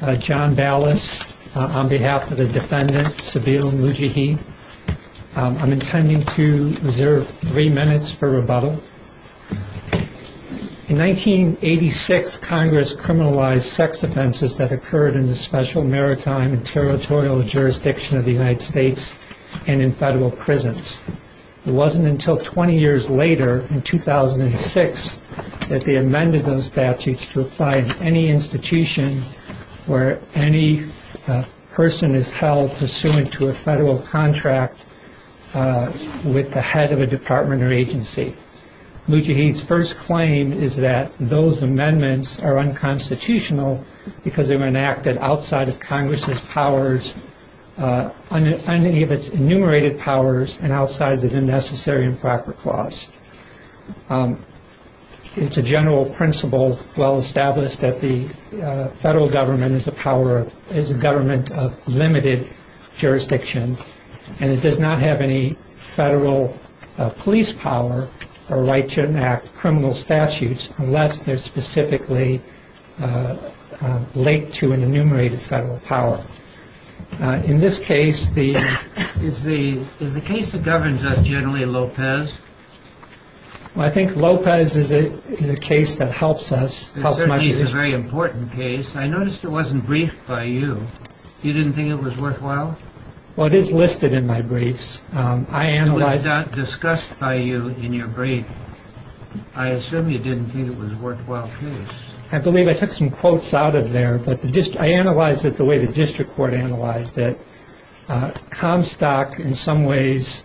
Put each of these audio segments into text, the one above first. I'm intending to reserve three minutes for rebuttal. In 1986, Congress criminalized sex offenses that occurred in the Special Maritime and Territorial Jurisdiction of the United States and in federal prisons. It wasn't until 20 years later, in 2006, that they amended those statutes to apply to any institution or institution of the United States. where any person is held pursuant to a federal contract with the head of a department or agency. Mujahid's first claim is that those amendments are unconstitutional because they were enacted outside of Congress's powers, unenumerated powers, and outside of the Necessary and Proper Clause. It's a general principle well established that the federal government is a government of limited jurisdiction and it does not have any federal police power or right to enact criminal statutes unless they're specifically linked to an enumerated federal power. In this case, the... Is the case that governs us generally Lopez? Well, I think Lopez is a case that helps us. It certainly is a very important case. I noticed it wasn't briefed by you. You didn't think it was worthwhile? Well, it is listed in my briefs. It was not discussed by you in your brief. I assume you didn't think it was a worthwhile case. I believe I took some quotes out of there, but I analyzed it the way the district court analyzed it. Comstock, in some ways,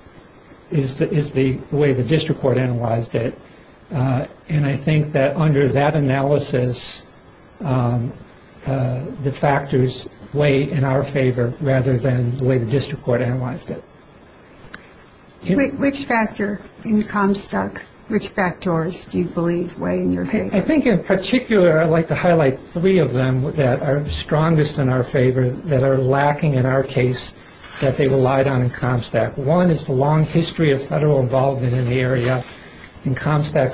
is the way the district court analyzed it. And I think that under that analysis, the factors weigh in our favor rather than the way the district court analyzed it. Which factor in Comstock, which factors do you believe weigh in your favor? I think in particular, I'd like to highlight three of them that are strongest in our favor, that are lacking in our case, that they relied on in Comstock. One is the long history of federal involvement in the area. In Comstock,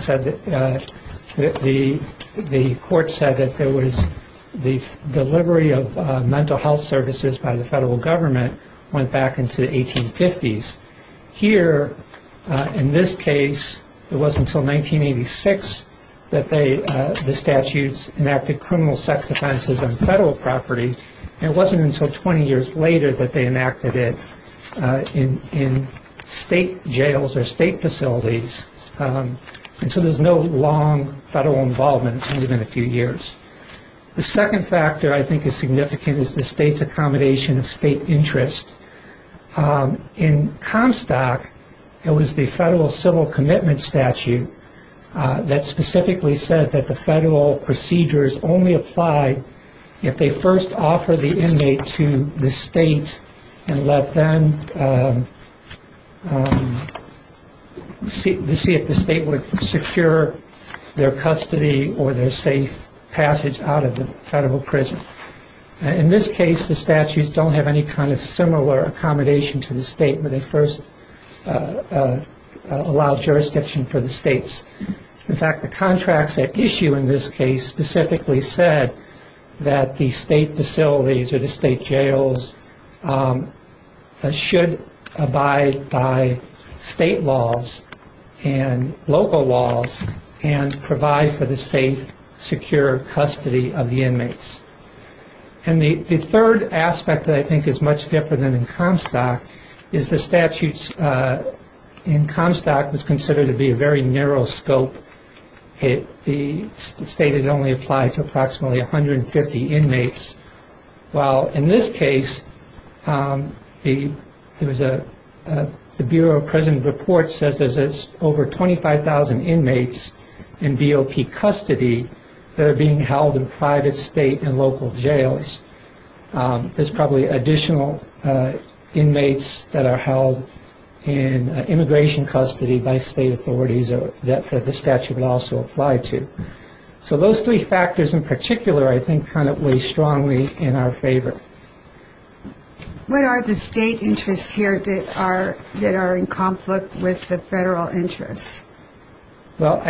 the court said that the delivery of mental health services by the federal government went back into the 1850s. Here, in this case, it wasn't until 1986 that the statutes enacted criminal sex offenses on federal property. And it wasn't until 20 years later that they enacted it in state jails or state facilities. And so there's no long federal involvement within a few years. The second factor I think is significant is the state's accommodation of state interest. In Comstock, it was the federal civil commitment statute that specifically said that the federal procedures only apply if they first offer the inmate to the state and let them see if the state would secure their custody or their safe passage out of the federal prison. In this case, the statutes don't have any kind of similar accommodation to the state where they first allow jurisdiction for the states. In fact, the contracts at issue in this case specifically said that the state facilities or the state jails should abide by state laws and local laws and provide for the safe, secure custody of the inmates. And the third aspect that I think is much different than in Comstock is the statutes in Comstock was considered to be a very narrow scope. The state had only applied to approximately 150 inmates. While in this case, the Bureau of Prison Reports says there's over 25,000 inmates in BOP custody that are being held in private, state, and local jails. There's probably additional inmates that are held in immigration custody by state authorities that the statute would also apply to. So those three factors in particular, I think, kind of weigh strongly in our favor. What are the state interests here that are in conflict with the federal interests? Well,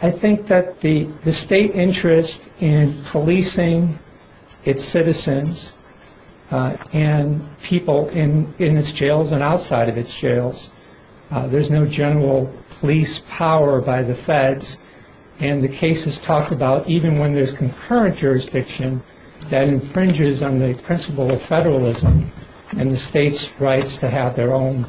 I think that the state interest in policing its citizens and people in its jails and outside of its jails, there's no general police power by the feds, and the cases talk about even when there's concurrent jurisdiction, that infringes on the principle of federalism and the state's rights to have their own,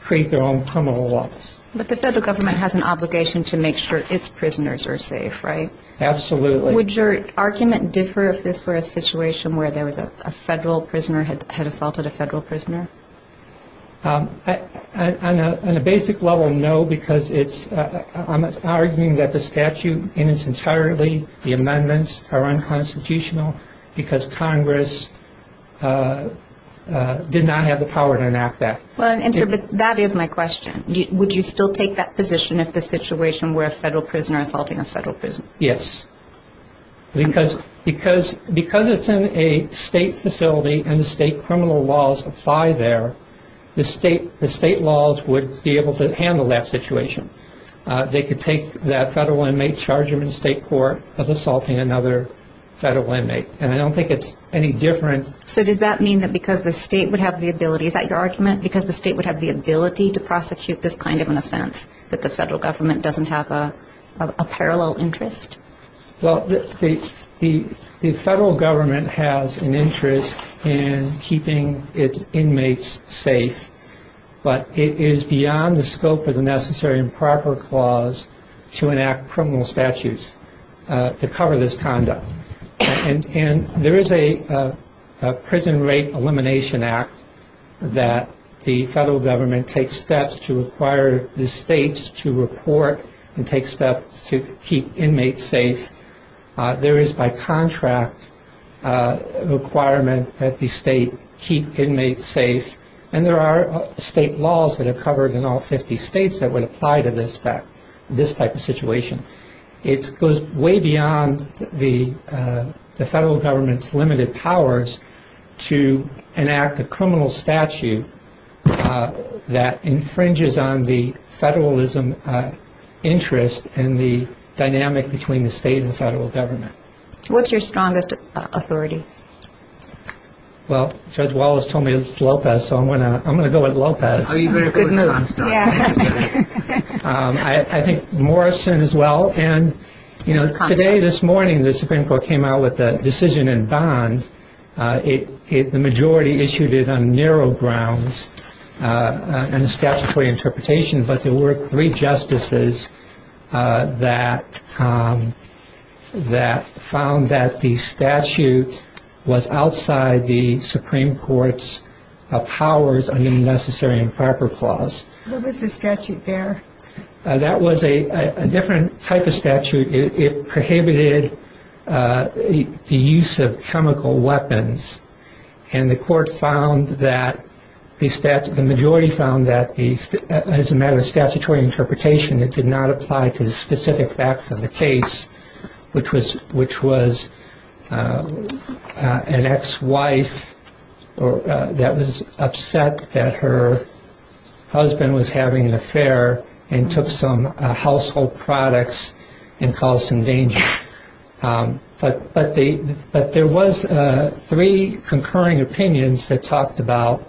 create their own criminal laws. But the federal government has an obligation to make sure its prisoners are safe, right? Absolutely. Would your argument differ if this were a situation where there was a federal prisoner had assaulted a federal prisoner? On a basic level, no, because I'm arguing that the statute in its entirety, the amendments are unconstitutional, because Congress did not have the power to enact that. Well, that is my question. Would you still take that position if the situation were a federal prisoner assaulting a federal prisoner? Yes. Because it's in a state facility and the state criminal laws apply there, the state laws would be able to handle that situation. They could take that federal inmate, charge him in state court of assaulting another federal inmate. And I don't think it's any different. So does that mean that because the state would have the ability, is that your argument, because the state would have the ability to prosecute this kind of an offense, that the federal government doesn't have a parallel interest? Well, the federal government has an interest in keeping its inmates safe, but it is beyond the scope of the necessary and proper clause to enact criminal statutes to cover this conduct. And there is a Prison Rape Elimination Act that the federal government takes steps to require the states to report and take steps to keep inmates safe. There is by contract a requirement that the state keep inmates safe, and there are state laws that are covered in all 50 states that would apply to this type of situation. It goes way beyond the federal government's limited powers to enact a criminal statute that infringes on the federalism interest and the dynamic between the state and the federal government. What's your strongest authority? Well, Judge Wallace told me it was Lopez, so I'm going to go with Lopez. Good move. I think Morrison as well, and today, this morning, the Supreme Court came out with a decision in bond. The majority issued it on narrow grounds and a statutory interpretation, but there were three justices that found that the statute was outside the Supreme Court's powers under the necessary and proper clause. What was the statute there? That was a different type of statute. It prohibited the use of chemical weapons, and the majority found that as a matter of statutory interpretation, it did not apply to the specific facts of the case, which was an ex-wife that was upset that her husband was having an affair and took some household products and caused some danger. But there was three concurring opinions that talked about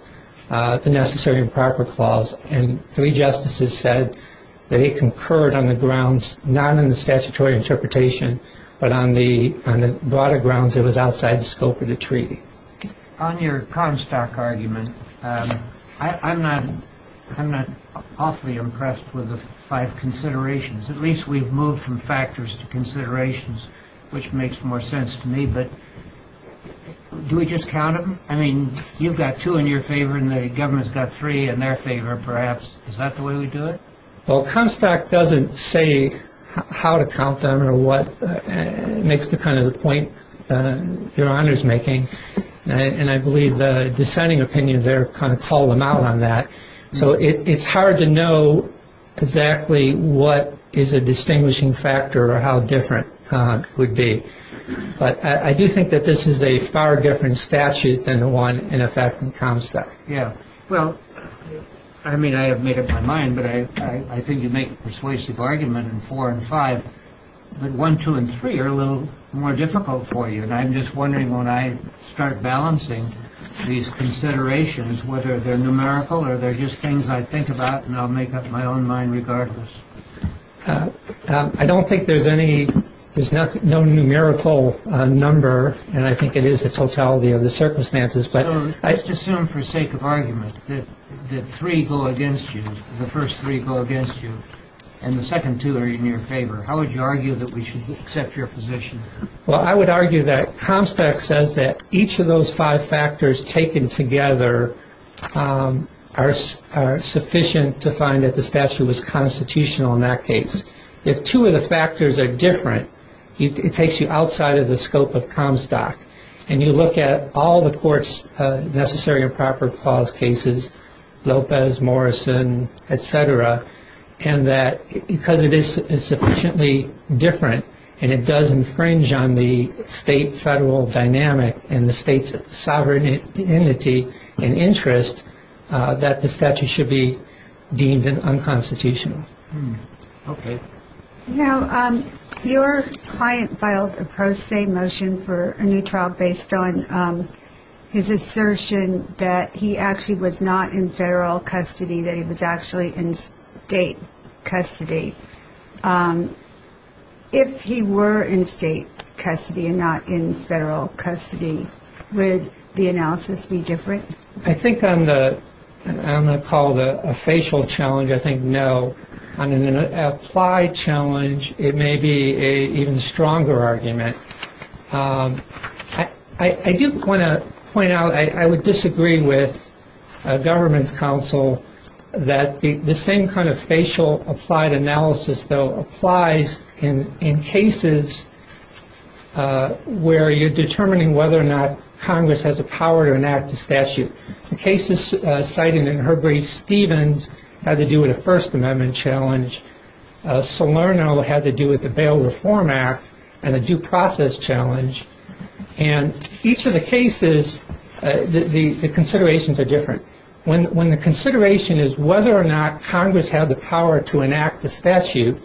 the necessary and proper clause, and three justices said that it concurred on the grounds not in the statutory interpretation, but on the broader grounds it was outside the scope of the treaty. On your Comstock argument, I'm not awfully impressed with the five considerations. At least we've moved from factors to considerations, which makes more sense to me. But do we just count them? I mean, you've got two in your favor and the government's got three in their favor, perhaps. Is that the way we do it? Well, Comstock doesn't say how to count them or what makes the kind of point Your Honor is making, and I believe the dissenting opinion there kind of called them out on that. So it's hard to know exactly what is a distinguishing factor or how different it would be. But I do think that this is a far different statute than the one in effect in Comstock. Yeah. Well, I mean, I have made up my mind, but I think you make a persuasive argument in four and five, but one, two, and three are a little more difficult for you, and I'm just wondering when I start balancing these considerations, whether they're numerical or they're just things I think about and I'll make up my own mind regardless. I don't think there's any, there's no numerical number, and I think it is the totality of the circumstances. But I just assume for sake of argument that three go against you, the first three go against you, and the second two are in your favor. How would you argue that we should accept your position? Well, I would argue that Comstock says that each of those five factors taken together are sufficient to find that the statute was constitutional in that case. If two of the factors are different, it takes you outside of the scope of Comstock, and you look at all the court's necessary and proper clause cases, Lopez, Morrison, et cetera, and that because it is sufficiently different and it does infringe on the state-federal dynamic and the state's sovereignty and interest that the statute should be deemed unconstitutional. Okay. Now, your client filed a pro se motion for a new trial based on his assertion that he actually was not in federal custody, that he was actually in state custody. If he were in state custody and not in federal custody, would the analysis be different? I think on the call to a facial challenge, I think no. On an applied challenge, it may be an even stronger argument. I do want to point out I would disagree with a government's counsel that the same kind of facial applied analysis though applies in cases where you're determining whether or not Congress has a power to enact a statute. The cases cited in Herbree-Stevens had to do with a First Amendment challenge. Salerno had to do with the Bail Reform Act and a due process challenge. And each of the cases, the considerations are different. When the consideration is whether or not Congress had the power to enact a statute,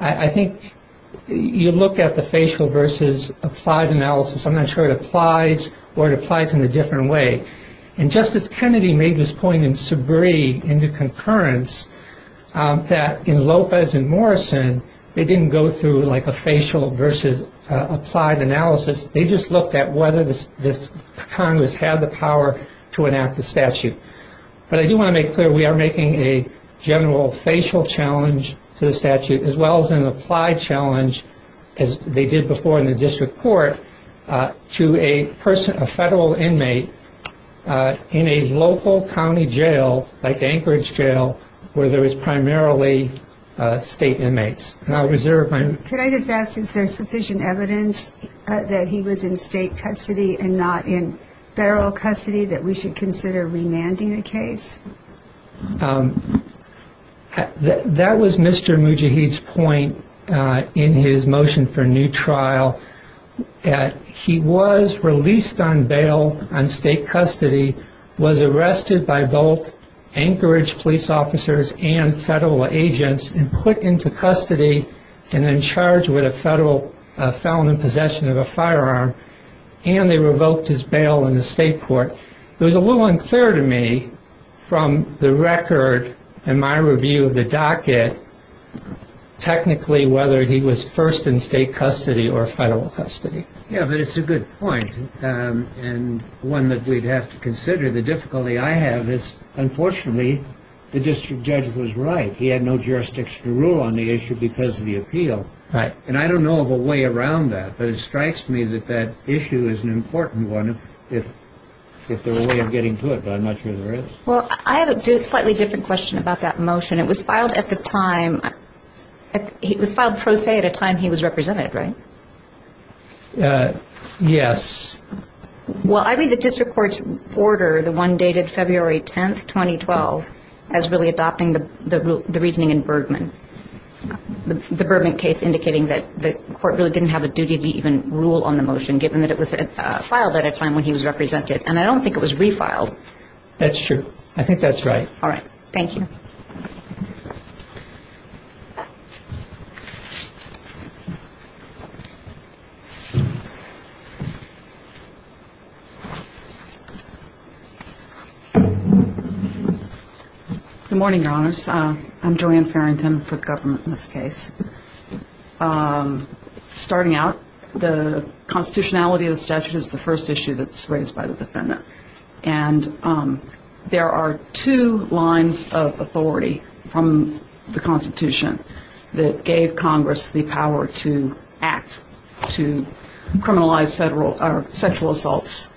I think you look at the facial versus applied analysis. I'm not sure it applies or it applies in a different way. And Justice Kennedy made this point in Sabree in the concurrence that in Lopez and Morrison, they didn't go through like a facial versus applied analysis. They just looked at whether Congress had the power to enact a statute. But I do want to make clear we are making a general facial challenge to the statute as well as an applied challenge, as they did before in the district court, to a federal inmate in a local county jail like Anchorage Jail where there is primarily state inmates. Can I just ask, is there sufficient evidence that he was in state custody and not in federal custody that we should consider remanding the case? That was Mr. Mujahid's point in his motion for new trial. He was released on bail on state custody, was arrested by both Anchorage police officers and federal agents and put into custody and then charged with a federal felon in possession of a firearm, and they revoked his bail in the state court. It was a little unclear to me from the record in my review of the docket technically whether he was first in state custody or federal custody. Yes, but it's a good point and one that we'd have to consider. The difficulty I have is, unfortunately, the district judge was right. He had no jurisdiction to rule on the issue because of the appeal. And I don't know of a way around that, but it strikes me that that issue is an important one if there were a way of getting to it, but I'm not sure there is. Well, I have a slightly different question about that motion. It was filed at the time. It was filed pro se at a time he was represented, right? Yes. Well, I read the district court's order, the one dated February 10, 2012, as really adopting the reasoning in Bergman, the Bergman case indicating that the court really didn't have a duty to even rule on the motion given that it was filed at a time when he was represented. And I don't think it was refiled. That's true. I think that's right. All right. Thank you. Good morning, Your Honors. I'm Joanne Farrington for the government in this case. Starting out, the constitutionality of the statute is the first issue that's raised by the defendant. And there are two lines of authority from the Constitution that gave Congress the power to act, to criminalize sexual assaults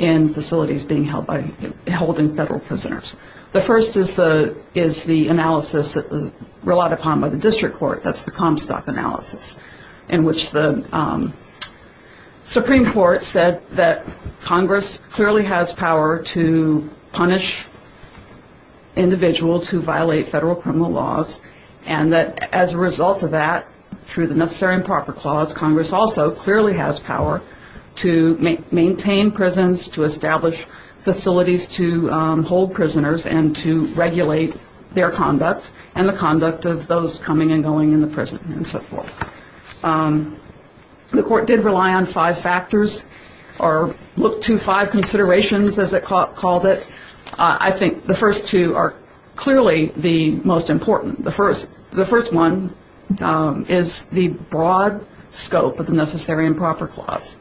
in facilities being held by holding federal prisoners. The first is the analysis relied upon by the district court, that's the Comstock analysis, in which the Supreme Court said that Congress clearly has power to punish individuals who violate federal criminal laws and that as a result of that, through the necessary and proper clause, Congress also clearly has power to maintain prisons, to establish facilities to hold prisoners and to regulate their conduct and the conduct of those coming and going in the prison and so forth. The court did rely on five factors or look to five considerations, as it called it. I think the first two are clearly the most important. The first one is the broad scope of the necessary and proper clause.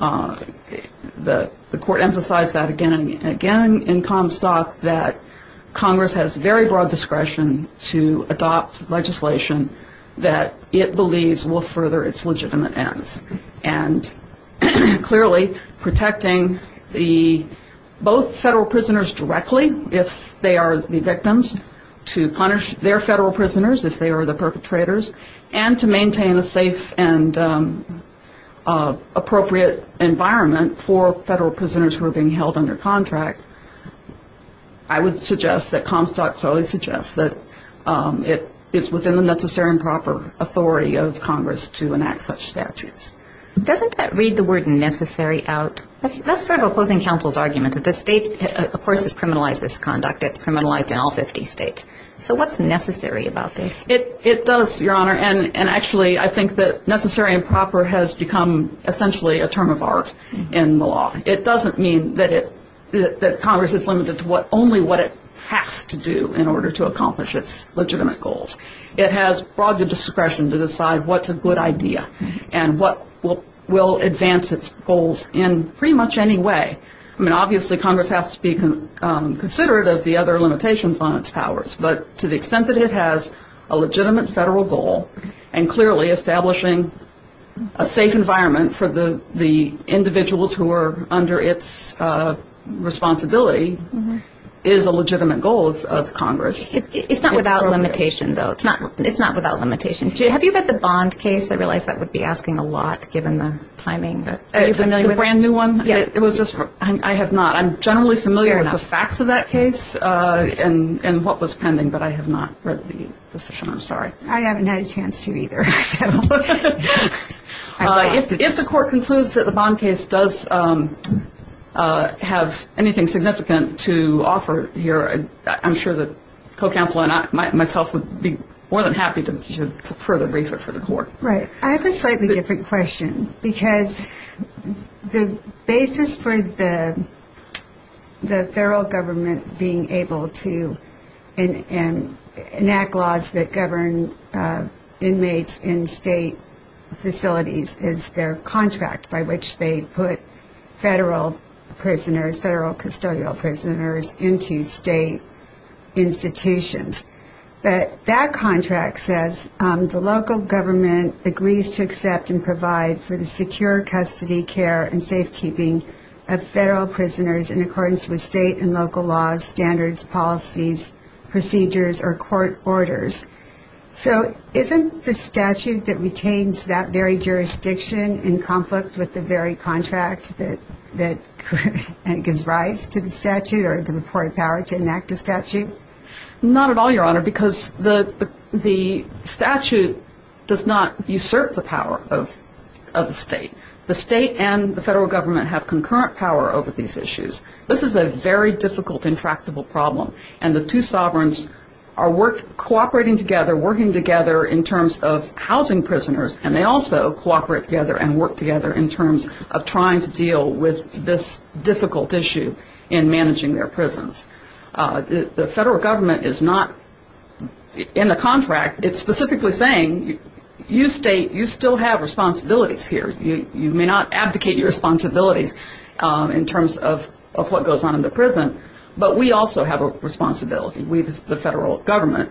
The court emphasized that again in Comstock that Congress has very broad discretion to adopt legislation that it believes will further its legitimate ends. And clearly protecting the both federal prisoners directly if they are the victims, to punish their federal prisoners if they are the perpetrators, and to maintain a safe and appropriate environment for federal prisoners who are being held under contract, I would suggest that Comstock clearly suggests that it is within the necessary and proper authority of Congress to enact such statutes. Doesn't that read the word necessary out? That's sort of opposing counsel's argument that the state, of course, has criminalized this conduct. It's criminalized in all 50 states. So what's necessary about this? It does, Your Honor, and actually I think that necessary and proper has become essentially a term of art in the law. It doesn't mean that Congress is limited to only what it has to do in order to accomplish its legitimate goals. It has broad discretion to decide what's a good idea and what will advance its goals in pretty much any way. I mean, obviously Congress has to be considerate of the other limitations on its powers, but to the extent that it has a legitimate federal goal and clearly establishing a safe environment for the individuals who are under its responsibility is a legitimate goal of Congress. It's not without limitation, though. It's not without limitation. Have you read the Bond case? I realize that would be asking a lot given the timing. Are you familiar with it? The brand-new one? Yeah. I have not. I'm generally familiar with the facts of that case and what was pending, but I have not read the session. I'm sorry. I haven't had a chance to either. If the court concludes that the Bond case does have anything significant to offer here, I'm sure that co-counsel and myself would be more than happy to further brief it for the court. Right. I have a slightly different question because the basis for the federal government being able to enact laws that govern inmates in state facilities is their contract by which they put federal prisoners, federal custodial prisoners into state institutions. But that contract says the local government agrees to accept and provide for the secure custody, care, and safekeeping of federal prisoners in accordance with state and local laws, standards, policies, procedures, or court orders. So isn't the statute that retains that very jurisdiction in conflict with the very contract that gives rise to the statute or the reported power to enact the statute? Not at all, Your Honor, because the statute does not usurp the power of the state. The state and the federal government have concurrent power over these issues. This is a very difficult, intractable problem, and the two sovereigns are cooperating together, working together in terms of housing prisoners, and they also cooperate together and work together in terms of trying to deal with this difficult issue in managing their prisons. The federal government is not in the contract. It's specifically saying you state you still have responsibilities here. You may not abdicate your responsibilities in terms of what goes on in the prison, but we also have a responsibility, the federal government,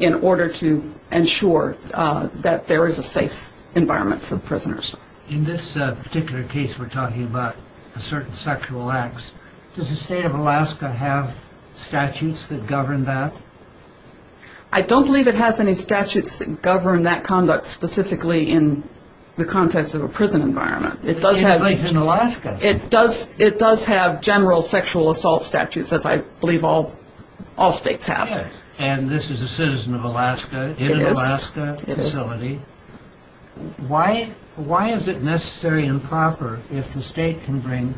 in order to ensure that there is a safe environment for prisoners. In this particular case, we're talking about certain sexual acts. Does the state of Alaska have statutes that govern that? I don't believe it has any statutes that govern that conduct specifically in the context of a prison environment. It does have general sexual assault statutes, as I believe all states have. And this is a citizen of Alaska in an Alaska facility. Why is it necessary and proper if the state can bring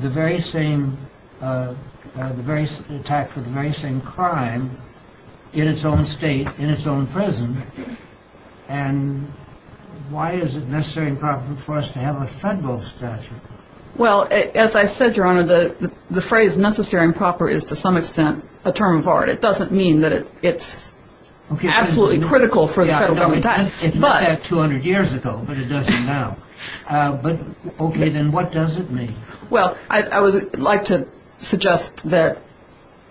the very same attack for the very same crime in its own state, in its own prison, and why is it necessary and proper for us to have a federal statute? Well, as I said, Your Honor, the phrase necessary and proper is to some extent a term of art. It doesn't mean that it's absolutely critical for the federal government to act. It meant that 200 years ago, but it doesn't now. But, okay, then what does it mean? Well, I would like to suggest that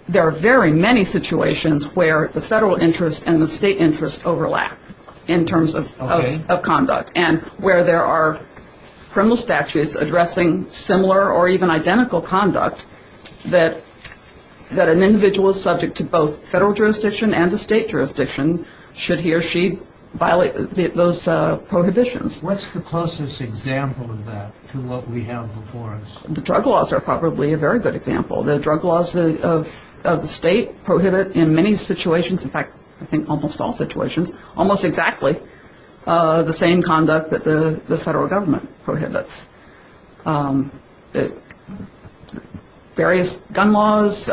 there are very many situations where the federal interest and the state interest overlap in terms of conduct, and where there are criminal statutes addressing similar or even identical conduct that an individual is subject to both federal jurisdiction and a state jurisdiction should he or she violate those prohibitions. What's the closest example of that to what we have before us? The drug laws are probably a very good example. The drug laws of the state prohibit in many situations, in fact, I think almost all situations, almost exactly the same conduct that the federal government prohibits. Various gun laws.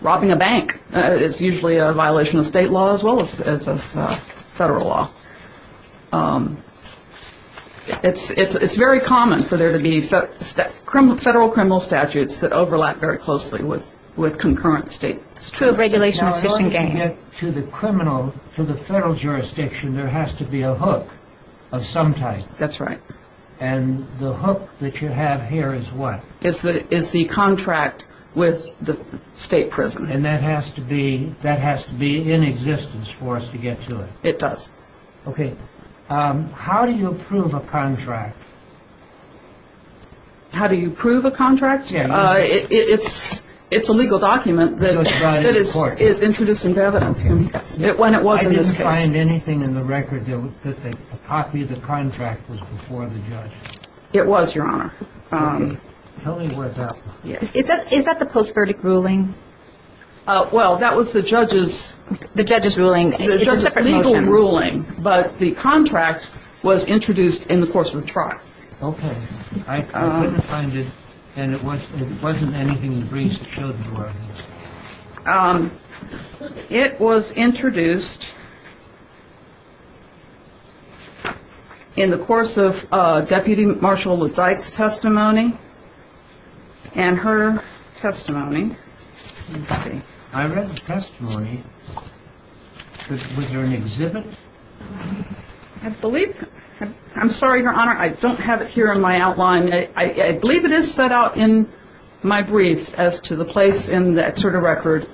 Robbing a bank is usually a violation of state law as well as of federal law. It's very common for there to be federal criminal statutes that overlap very closely with concurrent state. It's true of regulation of fish and game. To the criminal, to the federal jurisdiction, there has to be a hook of some type. That's right. And the hook that you have here is what? It's the contract with the state prison. And that has to be in existence for us to get to it. It does. Okay. How do you approve a contract? How do you approve a contract? It's a legal document that is introduced into evidence when it was in this case. Did you find anything in the record that a copy of the contract was before the judge? It was, Your Honor. Tell me what that was. Is that the post-verdict ruling? Well, that was the judge's legal ruling. But the contract was introduced in the course of the trial. Okay. I couldn't find it, and it wasn't anything in the briefs that showed it was. It was introduced in the course of Deputy Marshal LeDyke's testimony and her testimony. I read the testimony. Was there an exhibit? I believe so. I'm sorry, Your Honor. I don't have it here in my outline. I believe it is set out in my brief as to the place in the exerted record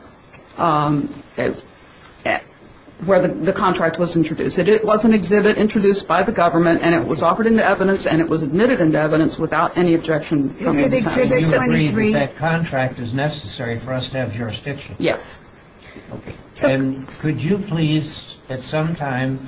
where the contract was introduced. It was an exhibit introduced by the government, and it was offered into evidence, and it was admitted into evidence without any objection from any time. You agree that that contract is necessary for us to have jurisdiction? Yes. Okay. And could you please, at some time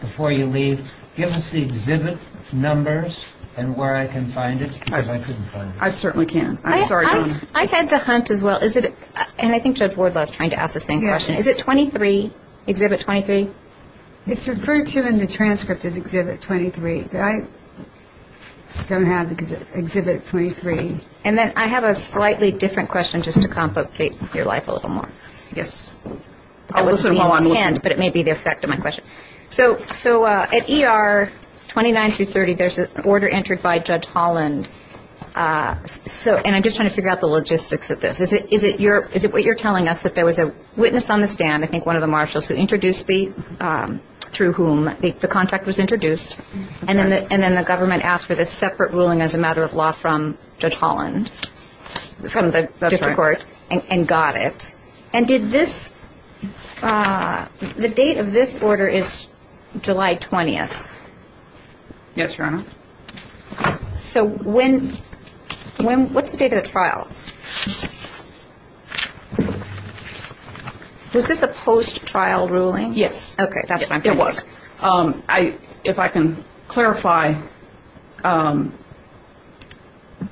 before you leave, give us the exhibit numbers and where I can find it, because I couldn't find it. I certainly can. I'm sorry, Your Honor. I had to hunt as well. And I think Judge Wardlaw is trying to ask the same question. Is it 23, Exhibit 23? It's referred to in the transcript as Exhibit 23, but I don't have it because it's Exhibit 23. And then I have a slightly different question just to complicate your life a little more. Yes. I'll listen while I'm looking. But it may be the effect of my question. So at ER 29 through 30, there's an order entered by Judge Holland, and I'm just trying to figure out the logistics of this. Is it what you're telling us, that there was a witness on the stand, I think one of the marshals, through whom the contract was introduced, and then the government asked for this separate ruling as a matter of law from Judge Holland? From the district court. That's right. And got it. And did this – the date of this order is July 20th. Yes, Your Honor. So when – what's the date of the trial? Is this a post-trial ruling? Yes. Okay. That's what I'm thinking. It was. If I can clarify,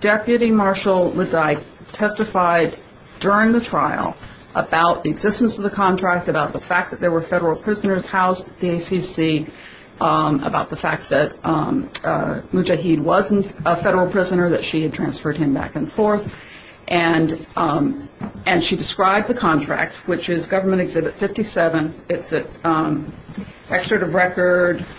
Deputy Marshal Ledecky testified during the trial about the existence of the contract, about the fact that there were federal prisoners housed at the ACC, about the fact that Mujahid wasn't a federal prisoner, that she had transferred him back and forth. And she described the contract, which is Government Exhibit 57. It's at Excerpt of Record –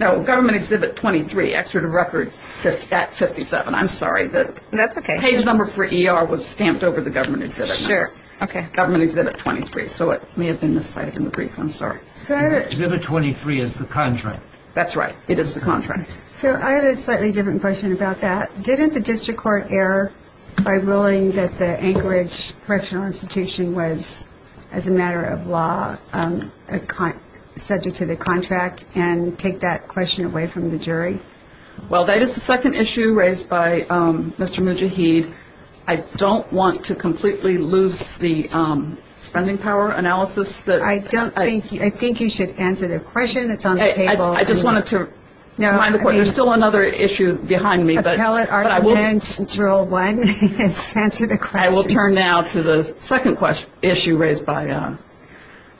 no, Government Exhibit 23, Excerpt of Record at 57. I'm sorry. That's okay. The page number for ER was stamped over the Government Exhibit number. Sure. Okay. Government Exhibit 23. So it may have been miscited in the brief. I'm sorry. Exhibit 23 is the contract. That's right. It is the contract. So I have a slightly different question about that. Didn't the district court err by ruling that the Anchorage Correctional Institution was, as a matter of law, subject to the contract and take that question away from the jury? Well, that is the second issue raised by Mr. Mujahid. I don't want to completely lose the spending power analysis. I think you should answer the question that's on the table. I just wanted to remind the Court there's still another issue behind me. Appellate Article 10, Central 1. Yes, answer the question. I will turn now to the second issue raised by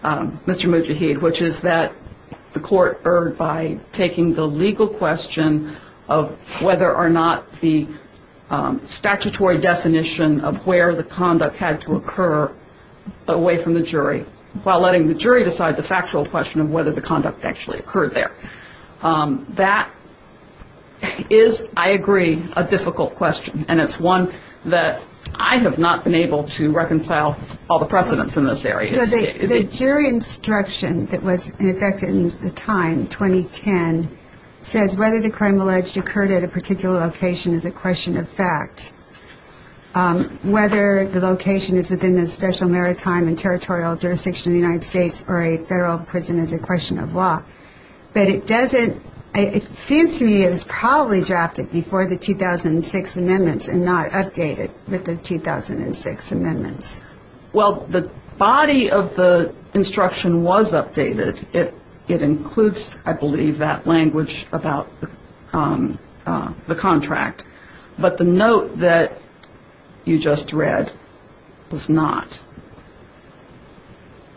Mr. Mujahid, which is that the Court erred by taking the legal question of whether or not the statutory definition of where the conduct had to occur away from the jury, while letting the jury decide the factual question of whether the conduct actually occurred there. That is, I agree, a difficult question, and it's one that I have not been able to reconcile all the precedents in this area. The jury instruction that was in effect at the time, 2010, says whether the crime alleged occurred at a particular location is a question of fact. Whether the location is within the special maritime and territorial jurisdiction of the United States or a federal prison is a question of law. But it doesn't, it seems to me it was probably drafted before the 2006 amendments and not updated with the 2006 amendments. Well, the body of the instruction was updated. It includes, I believe, that language about the contract. But the note that you just read was not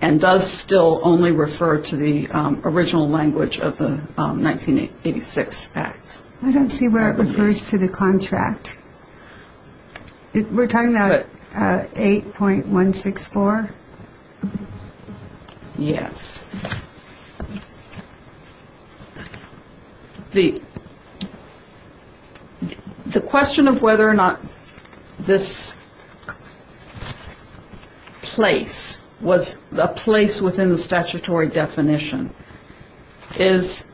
and does still only refer to the original language of the 1986 act. I don't see where it refers to the contract. We're talking about 8.164? Yes. The question of whether or not this place was a place within the statutory definition is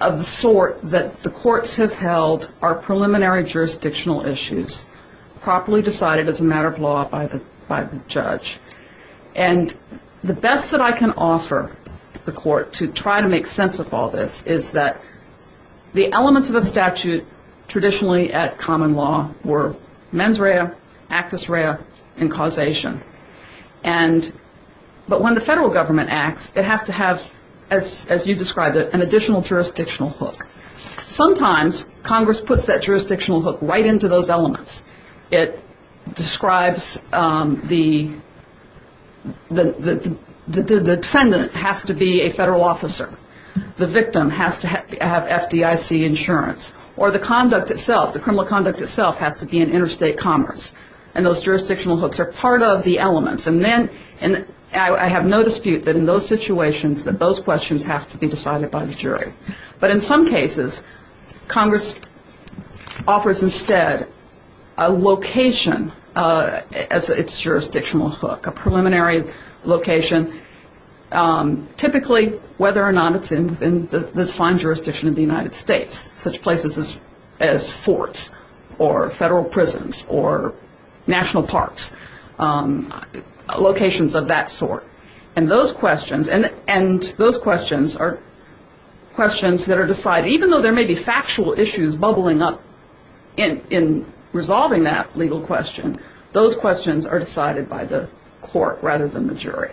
of the sort that the courts have held are preliminary jurisdictional issues, properly decided as a matter of law by the judge. And the best that I can offer the court to try to make sense of all this is that the elements of a statute traditionally at common law were mens rea, actus rea and causation. But when the federal government acts, it has to have, as you described it, an additional jurisdictional hook. Sometimes Congress puts that jurisdictional hook right into those elements. It describes the defendant has to be a federal officer, the victim has to have FDIC insurance, or the conduct itself, the criminal conduct itself has to be in interstate commerce. And those jurisdictional hooks are part of the elements. And then I have no dispute that in those situations that those questions have to be decided by the jury. But in some cases, Congress offers instead a location as its jurisdictional hook, a preliminary location, typically whether or not it's in the fine jurisdiction of the United States, such places as forts or federal prisons or national parks. Locations of that sort. And those questions are questions that are decided. Even though there may be factual issues bubbling up in resolving that legal question, those questions are decided by the court rather than the jury.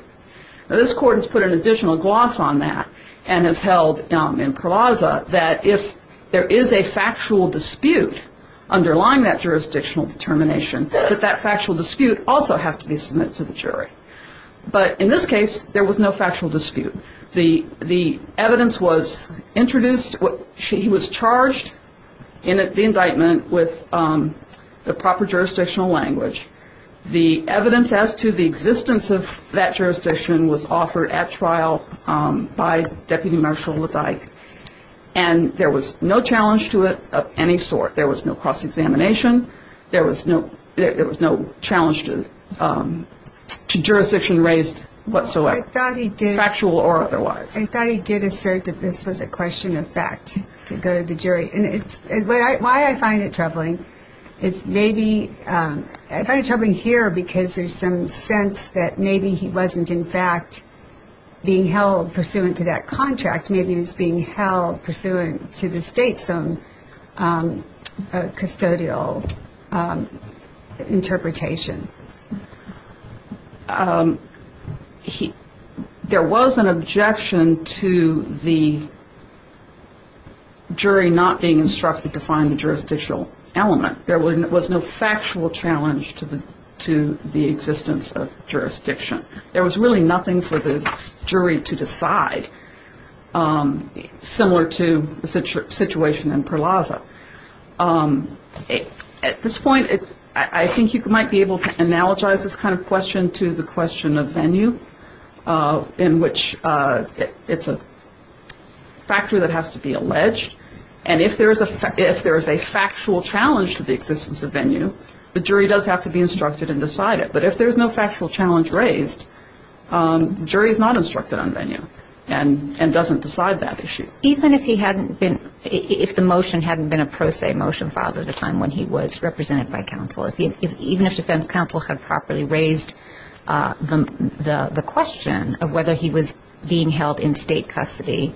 Now, this court has put an additional gloss on that and has held in Pravaza that if there is a factual dispute underlying that jurisdictional determination, that that factual dispute also has to be submitted to the jury. But in this case, there was no factual dispute. The evidence was introduced, he was charged in the indictment with the proper jurisdictional language. The evidence as to the existence of that jurisdiction was offered at trial by Deputy Marshal LeDyke. And there was no challenge to it of any sort. There was no cross-examination. There was no challenge to jurisdiction raised whatsoever. Factual or otherwise. I thought he did assert that this was a question of fact to go to the jury. Why I find it troubling is maybe, I find it troubling here because there's some sense that maybe he wasn't in fact being held pursuant to that contract. Maybe he was being held pursuant to the state's own custodial interpretation. There was an objection to the jury not being instructed to find the jurisdictional element. There was no factual challenge to the existence of jurisdiction. There was really nothing for the jury to decide, similar to the situation in Pravaza. At this point, I think you might be able to analogize this kind of question to the question of venue, in which it's a factory that has to be alleged. And if there is a factual challenge to the existence of venue, the jury does have to be instructed and decide it. But if there's no factual challenge raised, the jury is not instructed on venue and doesn't decide that issue. Even if he hadn't been, if the motion hadn't been a pro se motion filed at a time when he was represented by counsel, even if defense counsel had properly raised the question of whether he was being held in state custody,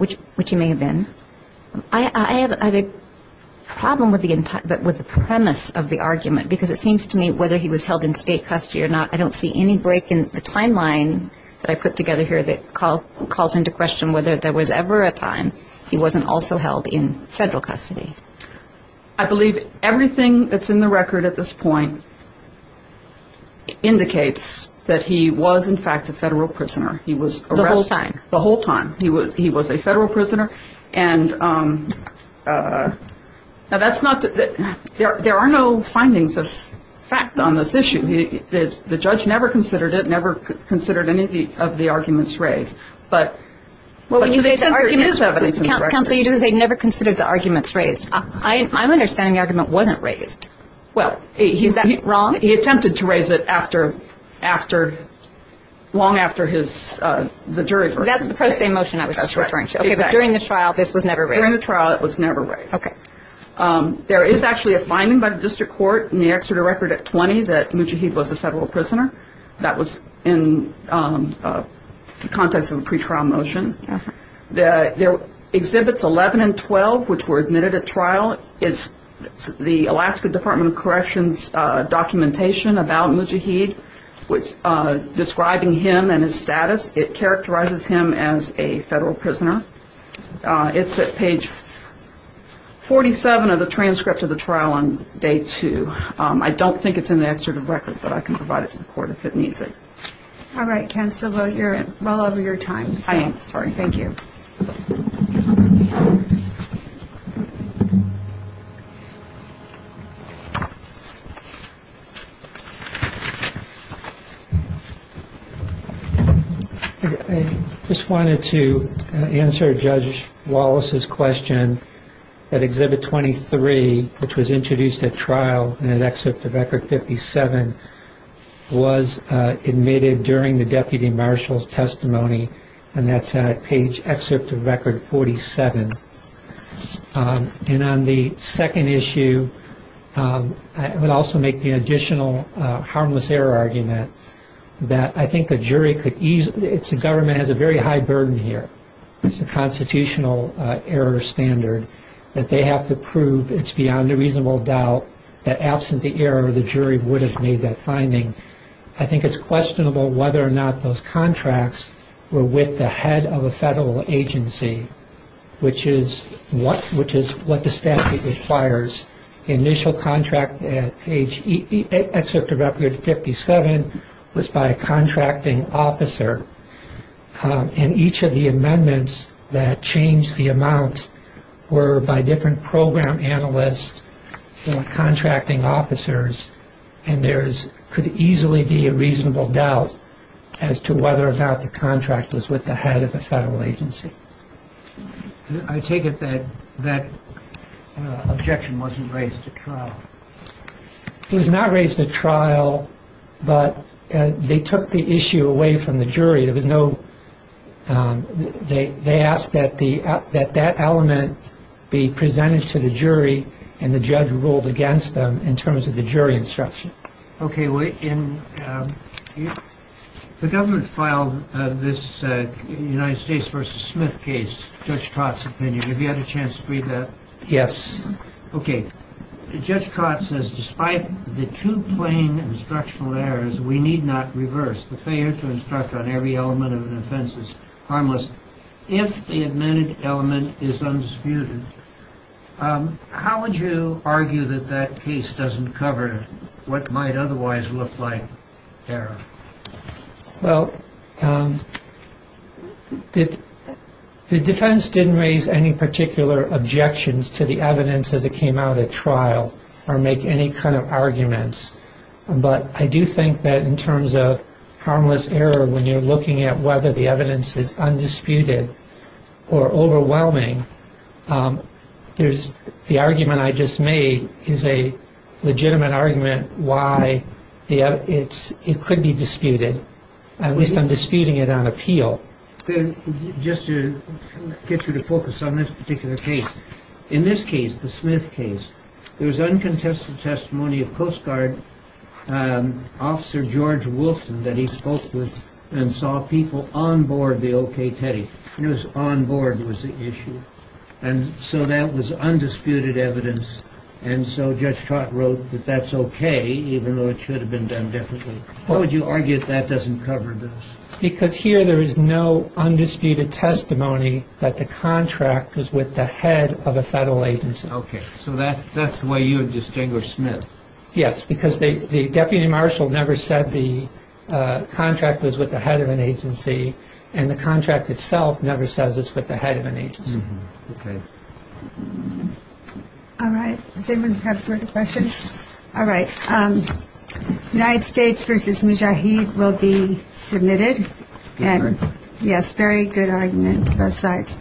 which he may have been, I have a problem with the premise of the argument because it seems to me whether he was held in state custody or not. I don't see any break in the timeline that I put together here that calls into question whether there was ever a time he wasn't also held in federal custody. I believe everything that's in the record at this point indicates that he was, in fact, a federal prisoner. He was arrested the whole time. He was a federal prisoner. Now, that's not, there are no findings of fact on this issue. The judge never considered it, never considered any of the arguments raised. But to the extent there is evidence in the record. So you just say never considered the arguments raised. I'm understanding the argument wasn't raised. Well, he attempted to raise it after, long after the jury. That's the pro se motion I was just referring to. It's 11 and 12, which were admitted at trial. It's the Alaska Department of Corrections documentation about Mujahid, describing him and his status. It characterizes him as a federal prisoner. It's at page 47 of the transcript of the trial on day two. I don't think it's in the excerpt of record, but I can provide it to the court if it needs it. All right, Ken Silva, you're well over your time. Thank you. I just wanted to answer Judge Wallace's question that Exhibit 23, which was introduced at trial in an excerpt of Record 57, was admitted during the Deputy Marshal's testimony. And that's at page excerpt of Record 47. And on the second issue, I would also make the additional harmless error argument that I think a jury could easily, it's the government has a very high burden here. It's the constitutional error standard that they have to prove it's beyond a reasonable doubt that absent the error, the jury would have made that finding. I think it's questionable whether or not those contracts were with the head of a federal agency, which is what the statute requires. The initial contract at page excerpt of Record 57 was by a contracting officer, and each of the amendments that changed the amount were by different program analysts and contracting officers, and there could easily be a reasonable doubt as to whether or not the contract was with the head of the federal agency. I take it that that objection wasn't raised at trial. It was not raised at trial, but they took the issue away from the jury. They asked that that element be presented to the jury, and the judge ruled against them in terms of the jury instruction. The government filed this United States v. Smith case, Judge Trott's opinion. Have you had a chance to read that? Yes. Okay. Judge Trott says, despite the two plain instructional errors, we need not reverse. The failure to instruct on every element of an offense is harmless if the amended element is undisputed. How would you argue that that case doesn't cover what might otherwise look like error? Well, the defense didn't raise any particular objections to the evidence as it came out at trial or make any kind of arguments, but I do think that in terms of harmless error, when you're looking at whether the evidence is undisputed or overwhelming, the argument I just made is a legitimate argument why it could be disputed. At least I'm disputing it on appeal. Just to get you to focus on this particular case, in this case, the Smith case, there was uncontested testimony of Coast Guard Officer George Wilson that he spoke with and saw people on board the OK tape. It was on board was the issue. And so that was undisputed evidence. And so Judge Trott wrote that that's okay, even though it should have been done differently. How would you argue that that doesn't cover this? Because here there is no undisputed testimony that the contract is with the head of a federal agency. Okay. So that's the way you would distinguish Smith? Yes, because the deputy marshal never said the contract was with the head of an agency, and the contract itself never says it's with the head of an agency. Okay. All right. Does anyone have further questions? All right. United States v. Mujahid will be submitted. Yes, very good argument on both sides.